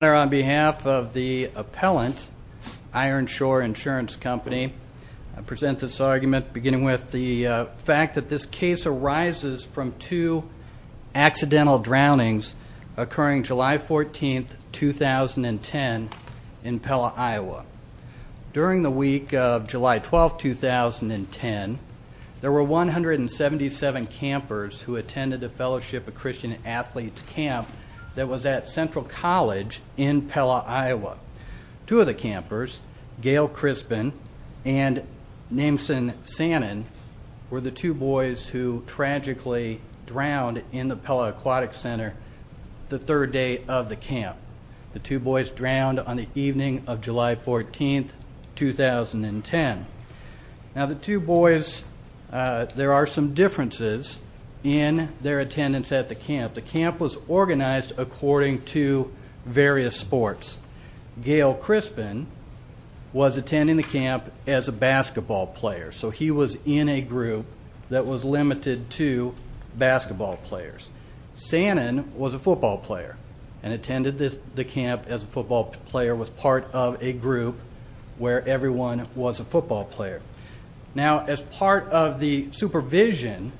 On behalf of the appellant, Ironshore Insurance Company, I present this argument beginning with the fact that this case arises from two accidental drownings occurring July 14, 2010 in Pella, Iowa. During the week of July 12, 2010, there were 177 campers who attended the Fellowship of Christian Athletes camp that was at Central College in Pella, Iowa. Two of the campers, Gail Crispin and Nameson Sannon, were the two boys who tragically drowned in the Pella Aquatic Center the third day of the camp. The two boys drowned on the evening of July 14, 2010. Now the two boys, there are some differences in their attendance at the camp. The camp was organized according to various sports. Gail Crispin was attending the camp as a basketball player, so he was in a group that was limited to basketball players. Sannon was a football player and attended the camp as a football player, was part of a group where everyone was a football player. Now as part of the supervision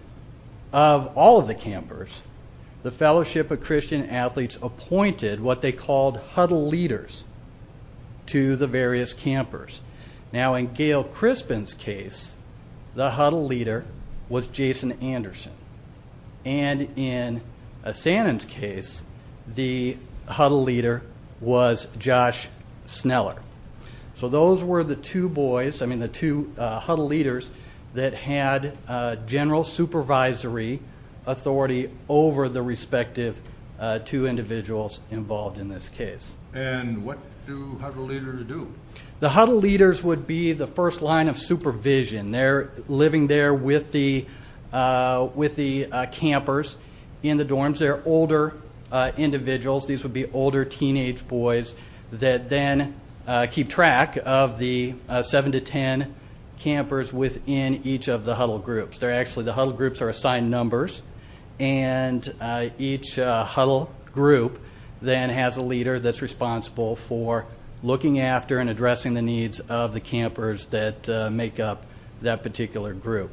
of all of the campers, the Fellowship of Christian Athletes appointed what they called huddle leaders to the various campers. Now in Gail Crispin's case, the huddle leader was Jason Anderson. And in Sannon's case, the huddle leader was Josh Sneller. So those were the two boys, I mean the two huddle leaders, that had general supervisory authority over the respective two individuals involved in this case. And what do huddle leaders do? The huddle leaders would be the first line of supervision. They're living there with the campers in the dorms. These would be older teenage boys that then keep track of the seven to ten campers within each of the huddle groups. The huddle groups are assigned numbers, and each huddle group then has a leader that's responsible for looking after and addressing the needs of the campers that make up that particular group.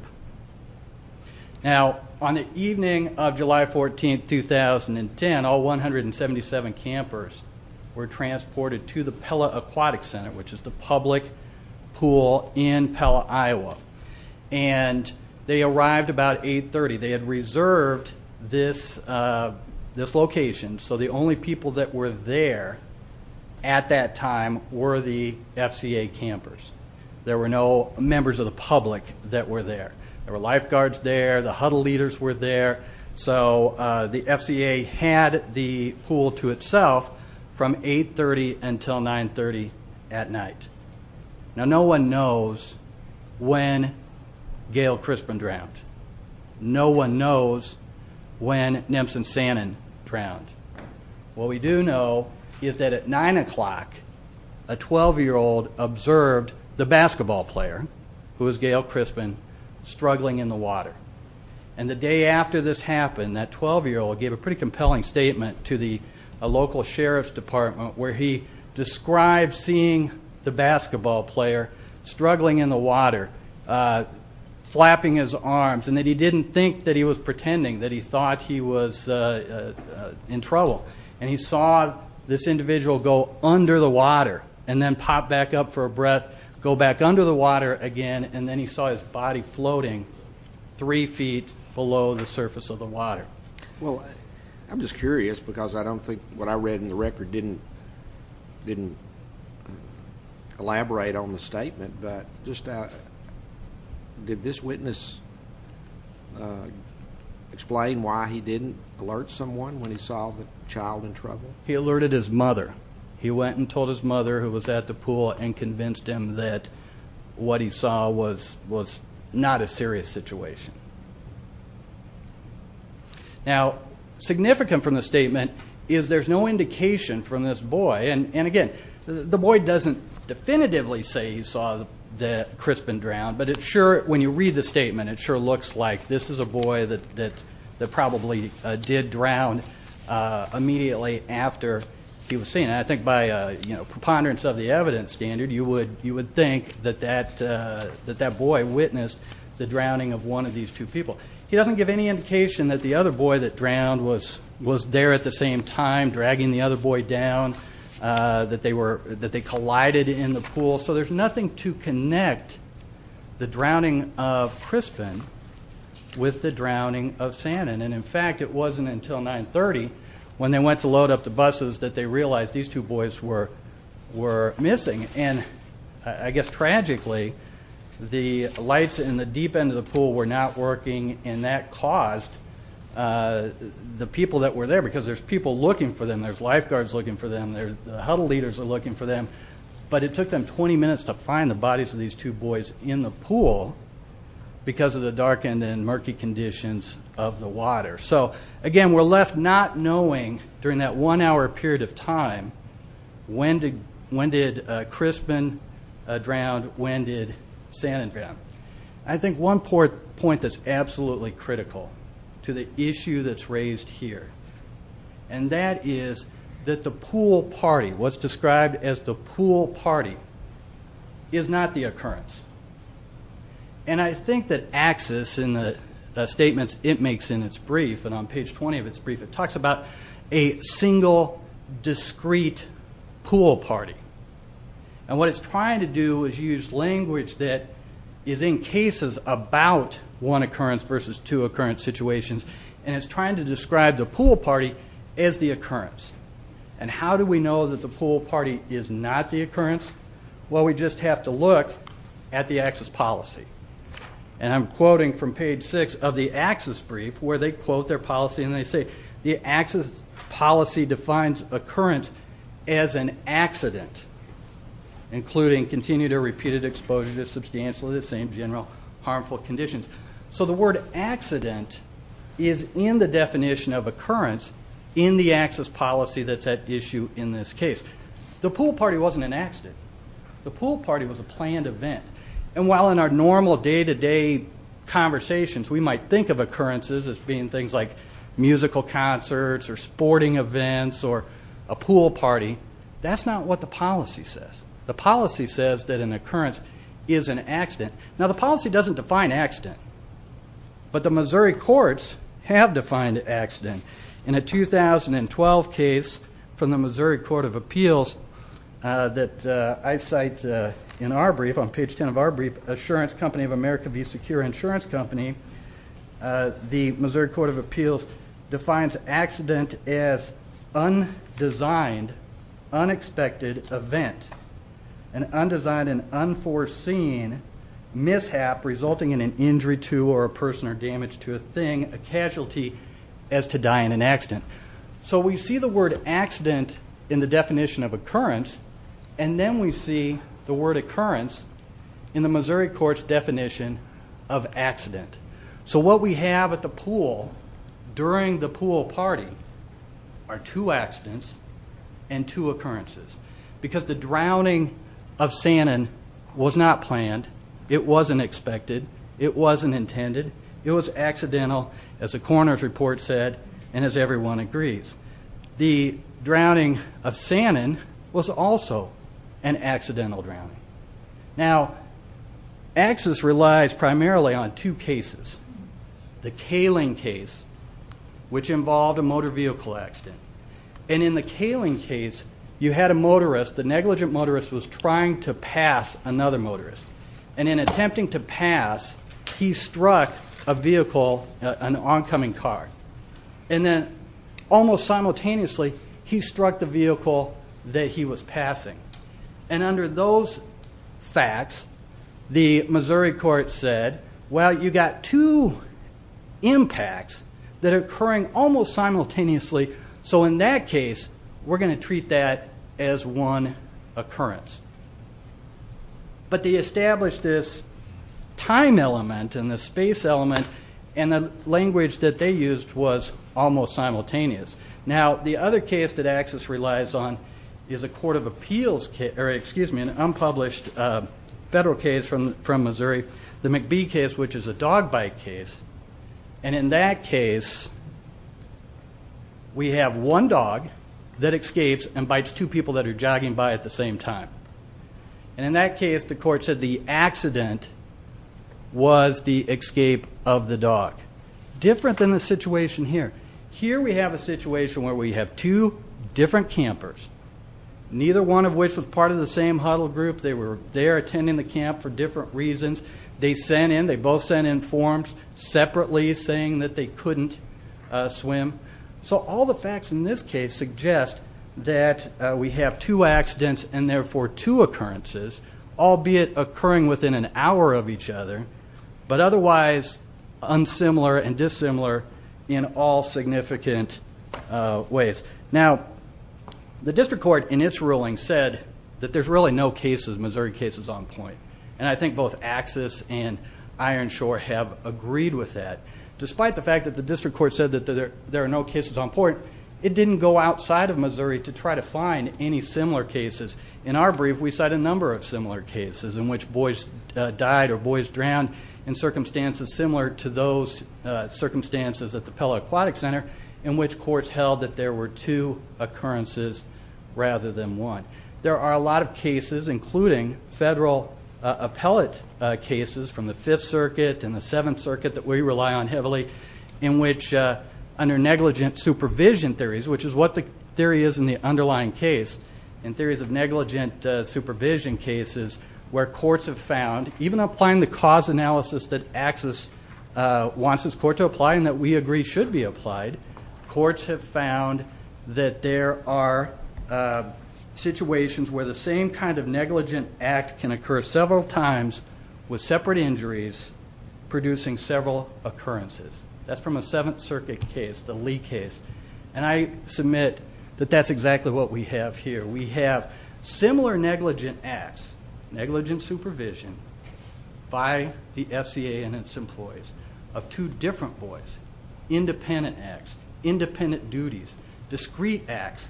Now on the evening of July 14, 2010, all 177 campers were transported to the Pella Aquatic Center, which is the public pool in Pella, Iowa. And they arrived about 8.30. They had reserved this location, so the only people that were there at that time were the FCA campers. There were no members of the public that were there. There were lifeguards there. The huddle leaders were there. So the FCA had the pool to itself from 8.30 until 9.30 at night. Now no one knows when Gail Crispin drowned. No one knows when Nemsen Sannon drowned. What we do know is that at 9 o'clock, a 12-year-old observed the basketball player, who was Gail Crispin, struggling in the water. And the day after this happened, that 12-year-old gave a pretty compelling statement to the local sheriff's department, where he described seeing the basketball player struggling in the water, flapping his arms, and that he didn't think that he was pretending, that he thought he was in trouble. And he saw this individual go under the water and then pop back up for a breath, go back under the water again, and then he saw his body floating three feet below the surface of the water. Well, I'm just curious because I don't think what I read in the record didn't elaborate on the statement, but just did this witness explain why he didn't alert someone when he saw the child in trouble? He went and told his mother, who was at the pool, and convinced him that what he saw was not a serious situation. Now, significant from the statement is there's no indication from this boy, and again, the boy doesn't definitively say he saw Crispin drown, but it sure, when you read the statement, it sure looks like this is a boy that probably did drown immediately after he was seen. And I think by preponderance of the evidence standard, you would think that that boy witnessed the drowning of one of these two people. He doesn't give any indication that the other boy that drowned was there at the same time dragging the other boy down, that they collided in the pool. So there's nothing to connect the drowning of Crispin with the drowning of Sanon. And in fact, it wasn't until 9.30 when they went to load up the buses that they realized these two boys were missing. And I guess tragically, the lights in the deep end of the pool were not working, and that caused the people that were there, because there's people looking for them, there's lifeguards looking for them, the huddle leaders are looking for them, but it took them 20 minutes to find the bodies of these two boys in the pool because of the darkened and murky conditions of the water. So, again, we're left not knowing, during that one-hour period of time, when did Crispin drown, when did Sanon drown. I think one point that's absolutely critical to the issue that's raised here, and that is that the pool party, what's described as the pool party, is not the occurrence. And I think that AXIS in the statements it makes in its brief, and on page 20 of its brief, it talks about a single, discrete pool party. And what it's trying to do is use language that is in cases about one occurrence versus two occurrence situations, and it's trying to describe the pool party as the occurrence. And how do we know that the pool party is not the occurrence? Well, we just have to look at the AXIS policy. And I'm quoting from page six of the AXIS brief, where they quote their policy, and they say, the AXIS policy defines occurrence as an accident, including continued or repeated exposure to substantially the same general harmful conditions. So the word accident is in the definition of occurrence in the AXIS policy that's at issue in this case. The pool party wasn't an accident. The pool party was a planned event. And while in our normal day-to-day conversations we might think of occurrences as being things like musical concerts or sporting events or a pool party, that's not what the policy says. The policy says that an occurrence is an accident. Now, the policy doesn't define accident, but the Missouri courts have defined accident. In a 2012 case from the Missouri Court of Appeals that I cite in our brief, on page 10 of our brief, Assurance Company of America v. Secure Insurance Company, the Missouri Court of Appeals defines accident as undesigned, unexpected event, an undesigned and unforeseen mishap resulting in an injury to or a person or damage to a thing, a casualty, as to die in an accident. So we see the word accident in the definition of occurrence, and then we see the word occurrence in the Missouri court's definition of accident. So what we have at the pool during the pool party are two accidents and two occurrences because the drowning of Sanon was not planned. It wasn't expected. It wasn't intended. It was accidental, as the coroner's report said and as everyone agrees. The drowning of Sanon was also an accidental drowning. Now, access relies primarily on two cases, the Kaling case, which involved a motor vehicle accident. And in the Kaling case, you had a motorist. The negligent motorist was trying to pass another motorist. And in attempting to pass, he struck a vehicle, an oncoming car. And then almost simultaneously, he struck the vehicle that he was passing. And under those facts, the Missouri court said, well, you've got two impacts that are occurring almost simultaneously. So in that case, we're going to treat that as one occurrence. But they established this time element and this space element, and the language that they used was almost simultaneous. Now, the other case that access relies on is a court of appeals case or, excuse me, an unpublished federal case from Missouri. The McBee case, which is a dog bite case. And in that case, we have one dog that escapes and bites two people that are jogging by at the same time. And in that case, the court said the accident was the escape of the dog. Different than the situation here. Here we have a situation where we have two different campers, neither one of which was part of the same huddle group. They were there attending the camp for different reasons. They sent in, they both sent in forms separately saying that they couldn't swim. So all the facts in this case suggest that we have two accidents and therefore two occurrences, albeit occurring within an hour of each other, but otherwise unsimilar and dissimilar in all significant ways. Now, the district court in its ruling said that there's really no cases, Missouri cases on point. And I think both AXIS and Ironshore have agreed with that. Despite the fact that the district court said that there are no cases on point, it didn't go outside of Missouri to try to find any similar cases. In our brief, we cite a number of similar cases in which boys died or boys drowned in circumstances similar to those circumstances at the Pella Aquatic Center in which courts held that there were two occurrences rather than one. There are a lot of cases, including federal appellate cases from the Fifth Circuit and the Seventh Circuit that we rely on heavily, in which under negligent supervision theories, which is what the theory is in the underlying case, and theories of negligent supervision cases where courts have found, even applying the cause analysis that AXIS wants its court to apply and that we agree should be applied, courts have found that there are situations where the same kind of negligent act can occur several times with separate injuries producing several occurrences. That's from a Seventh Circuit case, the Lee case. And I submit that that's exactly what we have here. We have similar negligent acts, negligent supervision by the FCA and its employees of two different boys, independent acts, independent duties, discrete acts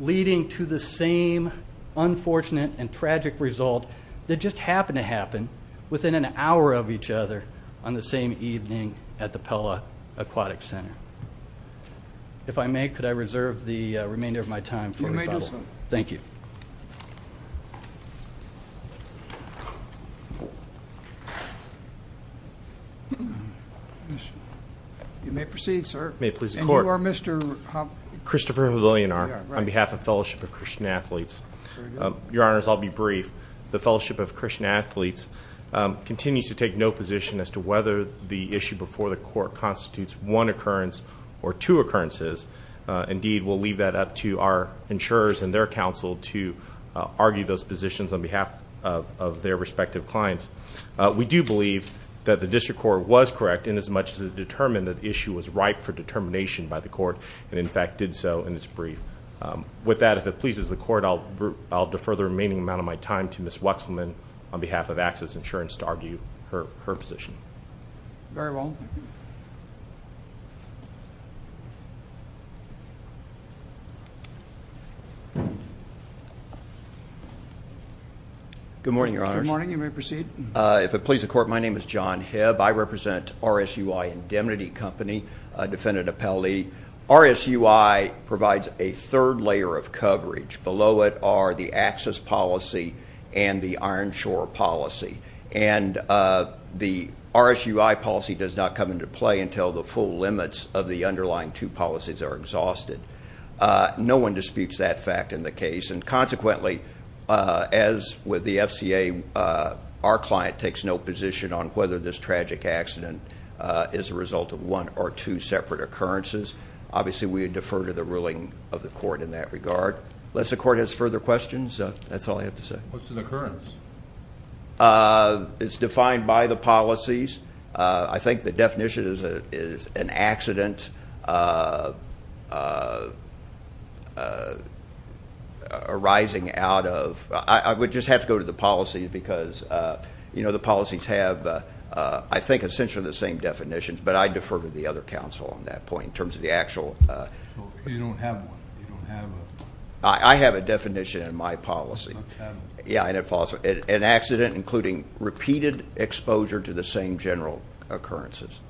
leading to the same unfortunate and tragic result that just happened to happen within an hour of each other on the same evening at the Pella Aquatic Center. If I may, could I reserve the remainder of my time for rebuttal? Thank you. You may proceed, sir. May it please the Court. And you are Mr.? Christopher Havilianar on behalf of Fellowship of Christian Athletes. Your Honors, I'll be brief. The Fellowship of Christian Athletes continues to take no position as to whether the issue before the court constitutes one occurrence or two occurrences. Indeed, we'll leave that up to our insurers and their counsel to argue those positions on behalf of their respective clients. We do believe that the district court was correct in as much as it determined that the issue was ripe for determination by the court and, in fact, did so in its brief. With that, if it pleases the Court, I'll defer the remaining amount of my time to Ms. Wexelman on behalf of Access Insurance to argue her position. Very well. Good morning, Your Honors. Good morning. You may proceed. If it pleases the Court, my name is John Hebb. I represent RSUI Indemnity Company, a defendant appellee. RSUI provides a third layer of coverage. Below it are the access policy and the iron shore policy. The RSUI policy does not come into play until the full limits of the underlying two policies are exhausted. No one disputes that fact in the case, and consequently, as with the FCA, our client takes no position on whether this tragic accident is a result of one or two separate occurrences. Obviously, we would defer to the ruling of the court in that regard. Unless the court has further questions, that's all I have to say. What's an occurrence? It's defined by the policies. I think the definition is an accident arising out of ‑‑I would just have to go to the policies, because, you know, the policies have, I think, essentially the same definitions, but I defer to the other counsel on that point in terms of the actual. You don't have one. I have a definition in my policy. An accident including repeated exposure to the same general occurrences.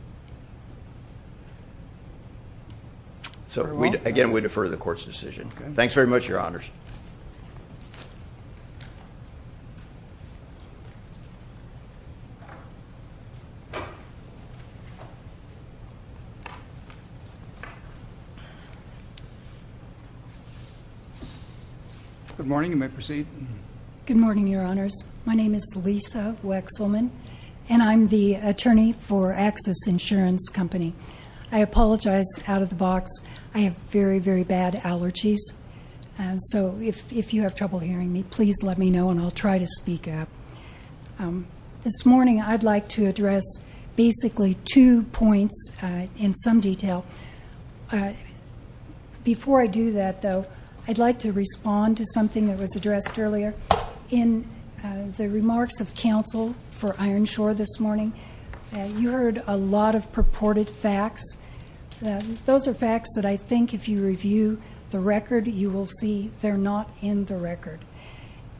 So, again, we defer to the court's decision. Thanks very much, Your Honors. Thank you very much. Good morning. You may proceed. Good morning, Your Honors. My name is Lisa Wexelman, and I'm the attorney for Access Insurance Company. I apologize out of the box. I have very, very bad allergies. So if you have trouble hearing me, please let me know, and I'll try to speak up. This morning I'd like to address basically two points in some detail. Before I do that, though, I'd like to respond to something that was addressed earlier. In the remarks of counsel for Ironshore this morning, you heard a lot of purported facts. Those are facts that I think if you review the record, you will see they're not in the record.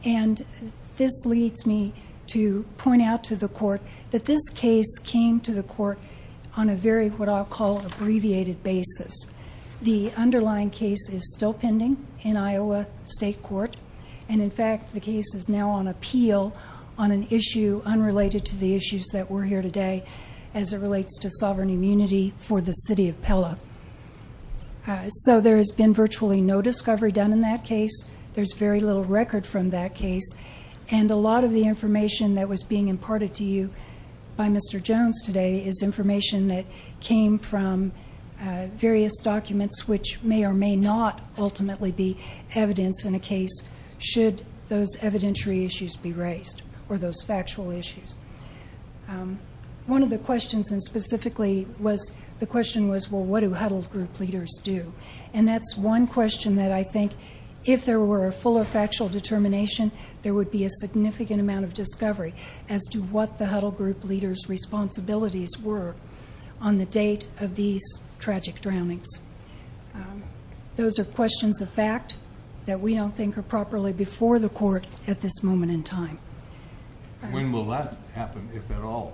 And this leads me to point out to the court that this case came to the court on a very what I'll call abbreviated basis. The underlying case is still pending in Iowa State Court, and, in fact, the case is now on appeal on an issue unrelated to the issues that were here today as it relates to sovereign immunity for the city of Pella. So there has been virtually no discovery done in that case. There's very little record from that case. And a lot of the information that was being imparted to you by Mr. Jones today is information that came from various documents, which may or may not ultimately be evidence in a case should those evidentiary issues be raised or those factual issues. One of the questions, and specifically the question was, well, what do huddle group leaders do? And that's one question that I think if there were a fuller factual determination, there would be a significant amount of discovery as to what the huddle group leaders' responsibilities were on the date of these tragic drownings. Those are questions of fact that we don't think are properly before the court at this moment in time. When will that happen, if at all?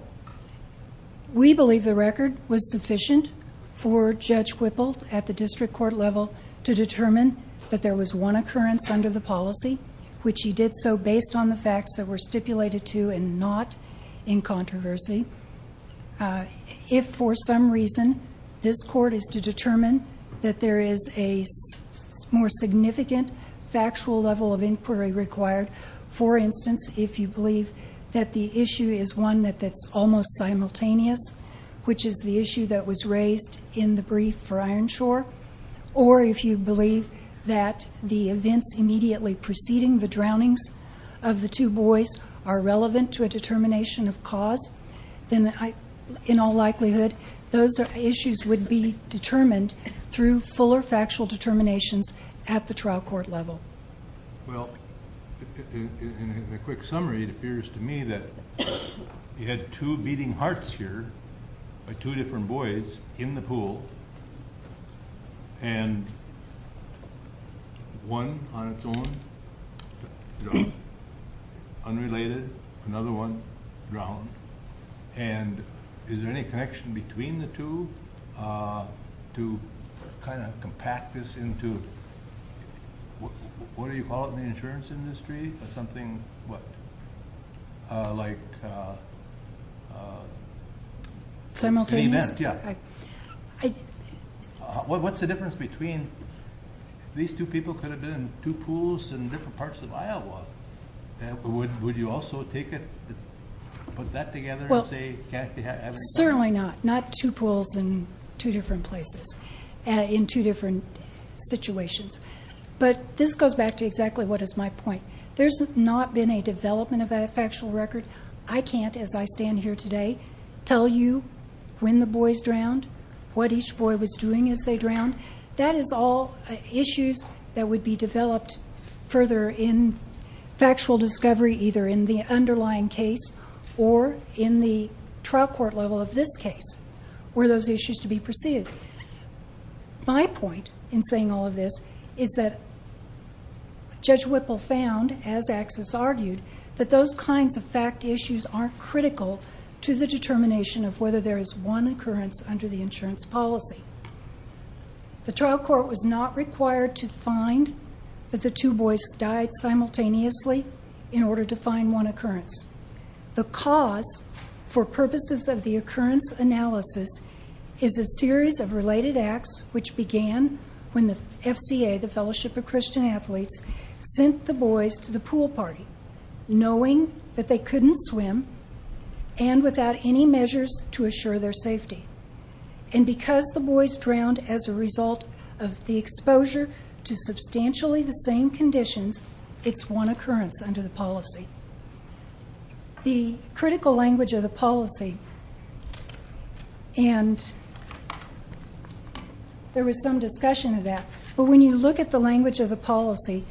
We believe the record was sufficient for Judge Whipple at the district court level to determine that there was one occurrence under the policy, which he did so based on the facts that were stipulated to and not in controversy. If for some reason this court is to determine that there is a more significant factual level of inquiry required, for instance, if you believe that the issue is one that's almost simultaneous, which is the issue that was raised in the brief for Ironshore, or if you believe that the events immediately preceding the drownings of the two boys are relevant to a determination of cause, then in all likelihood those issues would be determined through fuller factual determinations at the trial court level. Well, in a quick summary, it appears to me that you had two beating hearts here by two different boys in the pool, and one on its own drowned, unrelated, another one drowned, and is there any connection between the two to kind of compact this into, what do you call it in the insurance industry, something like simultaneous? Yeah. What's the difference between these two people could have been in two pools in different parts of Iowa? Would you also put that together and say it can't be happening? Certainly not. Not two pools in two different places in two different situations. But this goes back to exactly what is my point. There's not been a development of a factual record. I can't, as I stand here today, tell you when the boys drowned, what each boy was doing as they drowned. That is all issues that would be developed further in factual discovery either in the underlying case or in the trial court level of this case were those issues to be perceived. My point in saying all of this is that Judge Whipple found, as Axis argued, that those kinds of fact issues are critical to the determination of whether there is one occurrence under the insurance policy. The trial court was not required to find that the two boys died simultaneously in order to find one occurrence. The cause for purposes of the occurrence analysis is a series of related acts which began when the FCA, the Fellowship of Christian Athletes, sent the boys to the pool party knowing that they couldn't swim and without any measures to assure their safety. And because the boys drowned as a result of the exposure to substantially the same conditions, it's one occurrence under the policy. The critical language of the policy, and there was some discussion of that, but when you look at the language of the policy,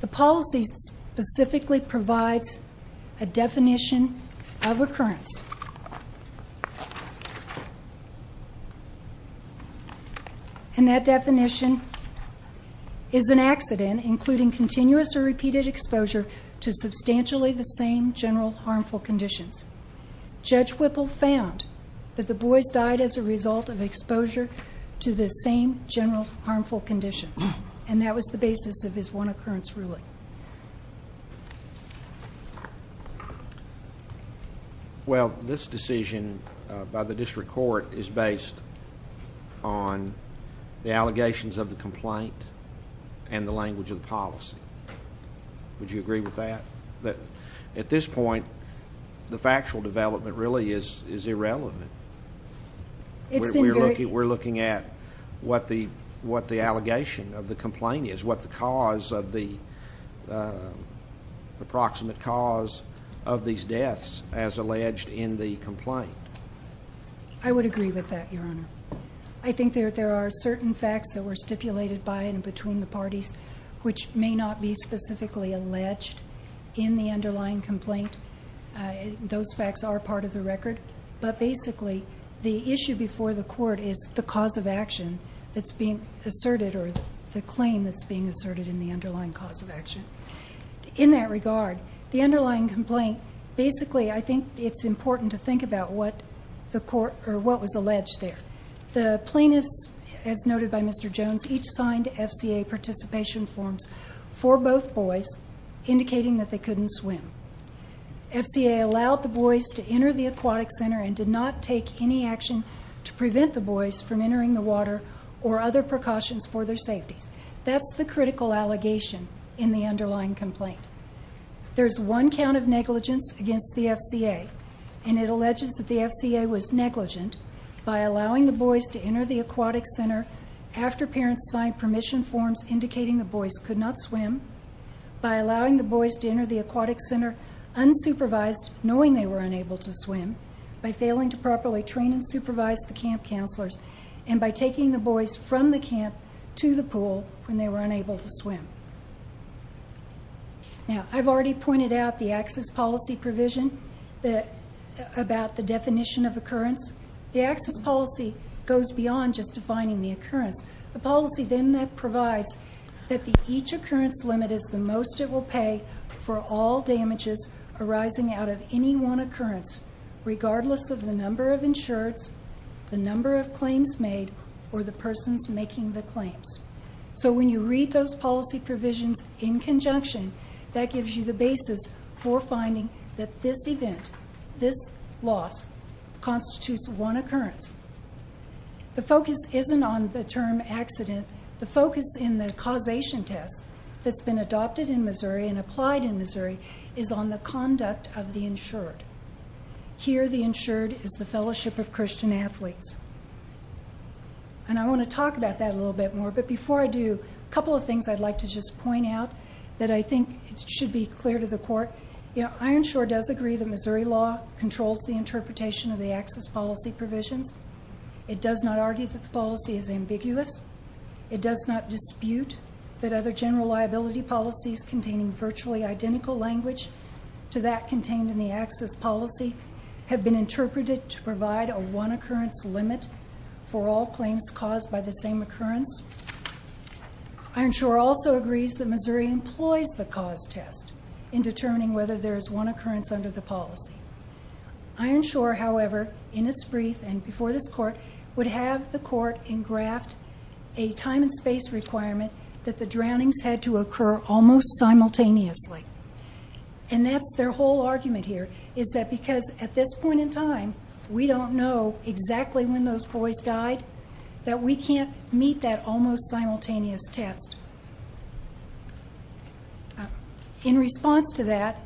the policy specifically provides a definition of occurrence. And that definition is an accident including continuous or repeated exposure to substantially the same general harmful conditions. Judge Whipple found that the boys died as a result of exposure to the same general harmful conditions, and that was the basis of his one occurrence ruling. Well, this decision by the district court is based on the allegations of the complaint and the language of the policy. Would you agree with that? At this point, the factual development really is irrelevant. We're looking at what the allegation of the complaint is, what the cause of the approximate cause of these deaths as alleged in the complaint. I would agree with that, Your Honor. I think there are certain facts that were stipulated by and between the parties, which may not be specifically alleged in the underlying complaint. Those facts are part of the record. But basically, the issue before the court is the cause of action that's being asserted or the claim that's being asserted in the underlying cause of action. In that regard, the underlying complaint, basically I think it's important to think about what was alleged there. The plaintiffs, as noted by Mr. Jones, each signed FCA participation forms for both boys, indicating that they couldn't swim. FCA allowed the boys to enter the aquatic center and did not take any action to prevent the boys from entering the water or other precautions for their safety. That's the critical allegation in the underlying complaint. There's one count of negligence against the FCA, and it alleges that the FCA was negligent by allowing the boys to enter the aquatic center after parents signed permission forms indicating the boys could not swim, by allowing the boys to enter the aquatic center unsupervised, knowing they were unable to swim, by failing to properly train and supervise the camp counselors, and by taking the boys from the camp to the pool when they were unable to swim. Now, I've already pointed out the access policy provision about the definition of occurrence. The access policy goes beyond just defining the occurrence. The policy then provides that each occurrence limit is the most it will pay for all damages arising out of any one occurrence, regardless of the number of insureds, the number of claims made, or the persons making the claims. So when you read those policy provisions in conjunction, that gives you the basis for finding that this event, this loss, constitutes one occurrence. The focus isn't on the term accident. The focus in the causation test that's been adopted in Missouri and applied in Missouri is on the conduct of the insured. Here, the insured is the Fellowship of Christian Athletes. I want to talk about that a little bit more, but before I do, a couple of things I'd like to just point out that I think should be clear to the court. Ironshore does agree that Missouri law controls the interpretation of the access policy provisions. It does not argue that the policy is ambiguous. It does not dispute that other general liability policies containing virtually identical language to that contained in the access policy have been interpreted to provide a one-occurrence limit for all claims caused by the same occurrence. Ironshore also agrees that Missouri employs the cause test in determining whether there is one occurrence under the policy. Ironshore, however, in its brief and before this court, would have the court engraft a time and space requirement that the drownings had to occur almost simultaneously. That's their whole argument here, is that because at this point in time, we don't know exactly when those boys died, that we can't meet that almost simultaneous test. In response to that,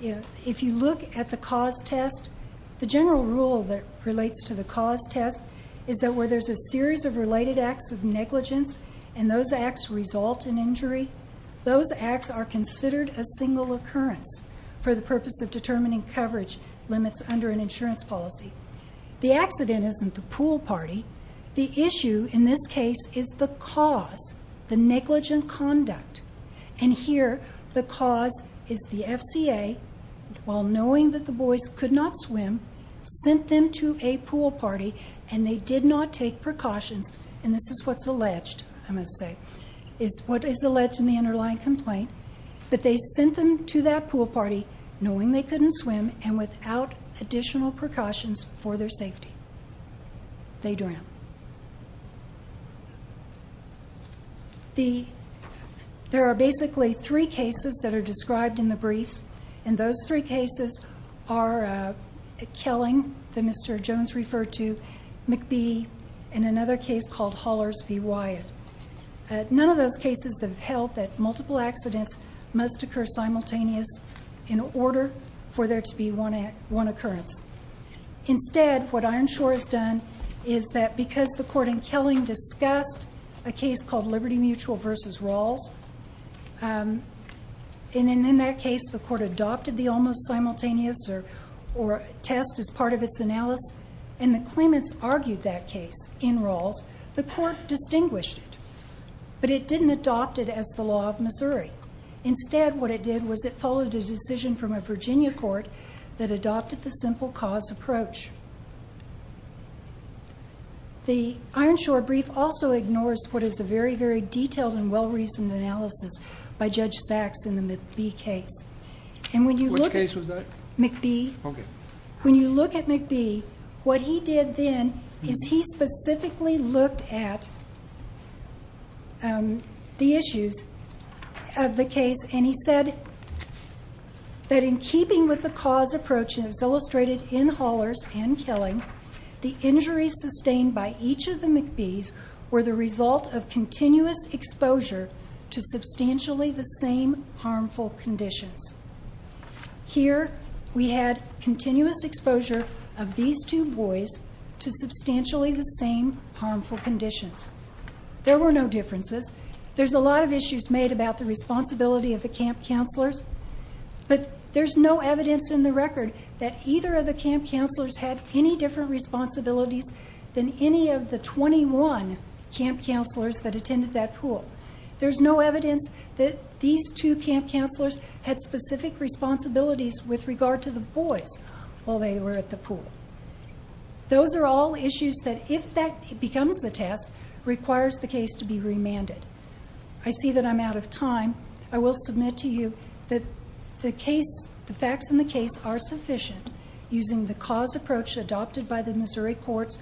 if you look at the cause test, the general rule that relates to the cause test is that where there's a series of related acts of negligence and those acts result in injury, those acts are considered a single occurrence for the purpose of determining coverage limits under an insurance policy. The accident isn't the pool party. The issue in this case is the cause, the negligent conduct. And here, the cause is the FCA, while knowing that the boys could not swim, sent them to a pool party and they did not take precautions. And this is what's alleged, I must say, is what is alleged in the underlying complaint. But they sent them to that pool party knowing they couldn't swim and without additional precautions for their safety. They drowned. There are basically three cases that are described in the briefs, and those three cases are a killing that Mr. Jones referred to, McBee, and another case called Hollers v. Wyatt. None of those cases have held that multiple accidents must occur simultaneous in order for there to be one occurrence. Instead, what Ironshore has done is that because the court in Killing discussed a case called Liberty Mutual v. Rawls, and in that case the court adopted the almost simultaneous test as part of its analysis and the claimants argued that case in Rawls, the court distinguished it. But it didn't adopt it as the law of Missouri. Instead, what it did was it followed a decision from a Virginia court that adopted the simple cause approach. The Ironshore brief also ignores what is a very, very detailed and well-reasoned analysis by Judge Sachs in the McBee case. Which case was that? McBee. Okay. When you look at McBee, what he did then is he specifically looked at the issues of the case, and he said that in keeping with the cause approach as illustrated in Hollers and Killing, the injuries sustained by each of the McBees were the result of continuous exposure to substantially the same harmful conditions. Here we had continuous exposure of these two boys to substantially the same harmful conditions. There were no differences. There's a lot of issues made about the responsibility of the camp counselors, but there's no evidence in the record that either of the camp counselors had any different responsibilities than any of the 21 camp counselors that attended that pool. There's no evidence that these two camp counselors had specific responsibilities with regard to the boys while they were at the pool. Those are all issues that, if that becomes the test, requires the case to be remanded. I see that I'm out of time. I will submit to you that the facts in the case are sufficient, using the cause approach adopted by the Missouri courts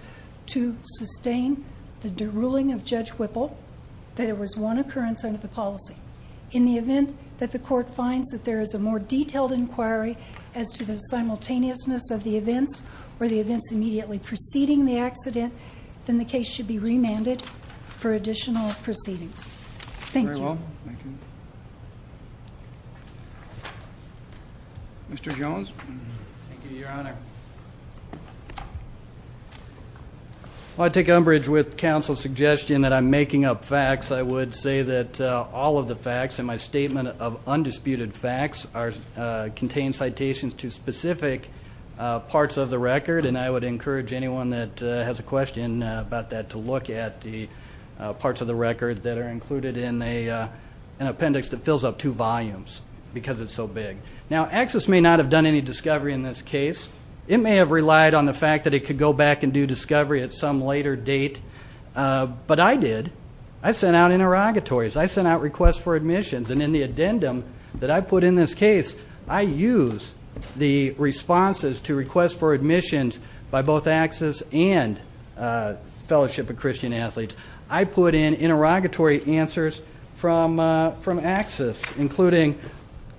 to sustain the ruling of Judge Whipple, that it was one occurrence under the policy. In the event that the court finds that there is a more detailed inquiry as to the simultaneousness of the events or the events immediately preceding the accident, then the case should be remanded for additional proceedings. Thank you. Mr. Jones? Thank you, Your Honor. I take umbrage with counsel's suggestion that I'm making up facts. I would say that all of the facts in my statement of undisputed facts contain citations to specific parts of the record, and I would encourage anyone that has a question about that to look at the parts of the record that are included in an appendix that fills up two volumes because it's so big. Now, Access may not have done any discovery in this case. It may have relied on the fact that it could go back and do discovery at some later date, but I did. I sent out interrogatories. I sent out requests for admissions, and in the addendum that I put in this case, I use the responses to requests for admissions by both Access and Fellowship of Christian Athletes. I put in interrogatory answers from Access, including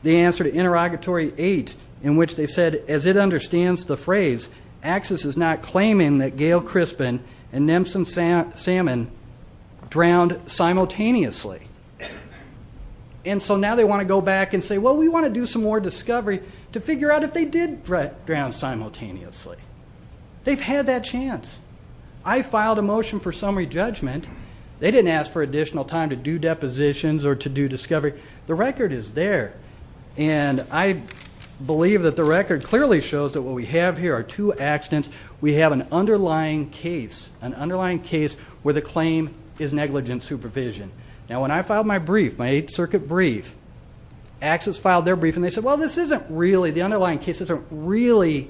the answer to Interrogatory 8, in which they said, as it understands the phrase, Access is not claiming that Gail Crispin and Nemson Salmon drowned simultaneously. And so now they want to go back and say, well, we want to do some more discovery to figure out if they did drown simultaneously. They've had that chance. I filed a motion for summary judgment. They didn't ask for additional time to do depositions or to do discovery. The record is there. And I believe that the record clearly shows that what we have here are two accidents. We have an underlying case, an underlying case where the claim is negligent supervision. Now, when I filed my brief, my Eighth Circuit brief, Access filed their brief, and they said, well, this isn't really, the underlying case isn't really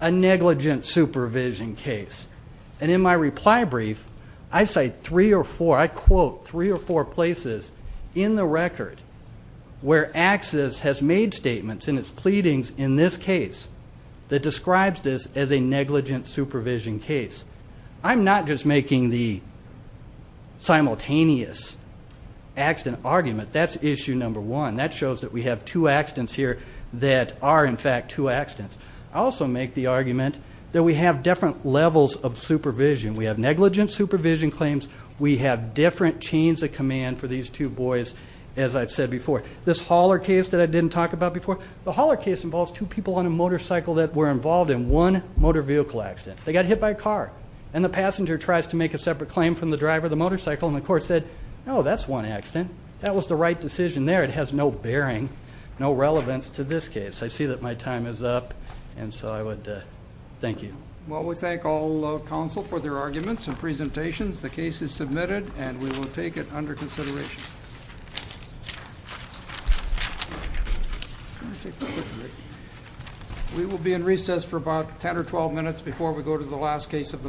a negligent supervision case. And in my reply brief, I cite three or four, I quote three or four places in the record where Access has made statements in its pleadings in this case that describes this as a negligent supervision case. I'm not just making the simultaneous accident argument. That's issue number one. That shows that we have two accidents here that are, in fact, two accidents. I also make the argument that we have different levels of supervision. We have negligent supervision claims. We have different chains of command for these two boys, as I've said before. This Haller case that I didn't talk about before, the Haller case involves two people on a motorcycle that were involved in one motor vehicle accident. They got hit by a car. And the passenger tries to make a separate claim from the driver of the motorcycle, and the court said, no, that's one accident. That was the right decision there. It has no bearing, no relevance to this case. I see that my time is up, and so I would thank you. Well, we thank all counsel for their arguments and presentations. The case is submitted, and we will take it under consideration. We will be in recess for about 10 or 12 minutes before we go to the last case of the morning.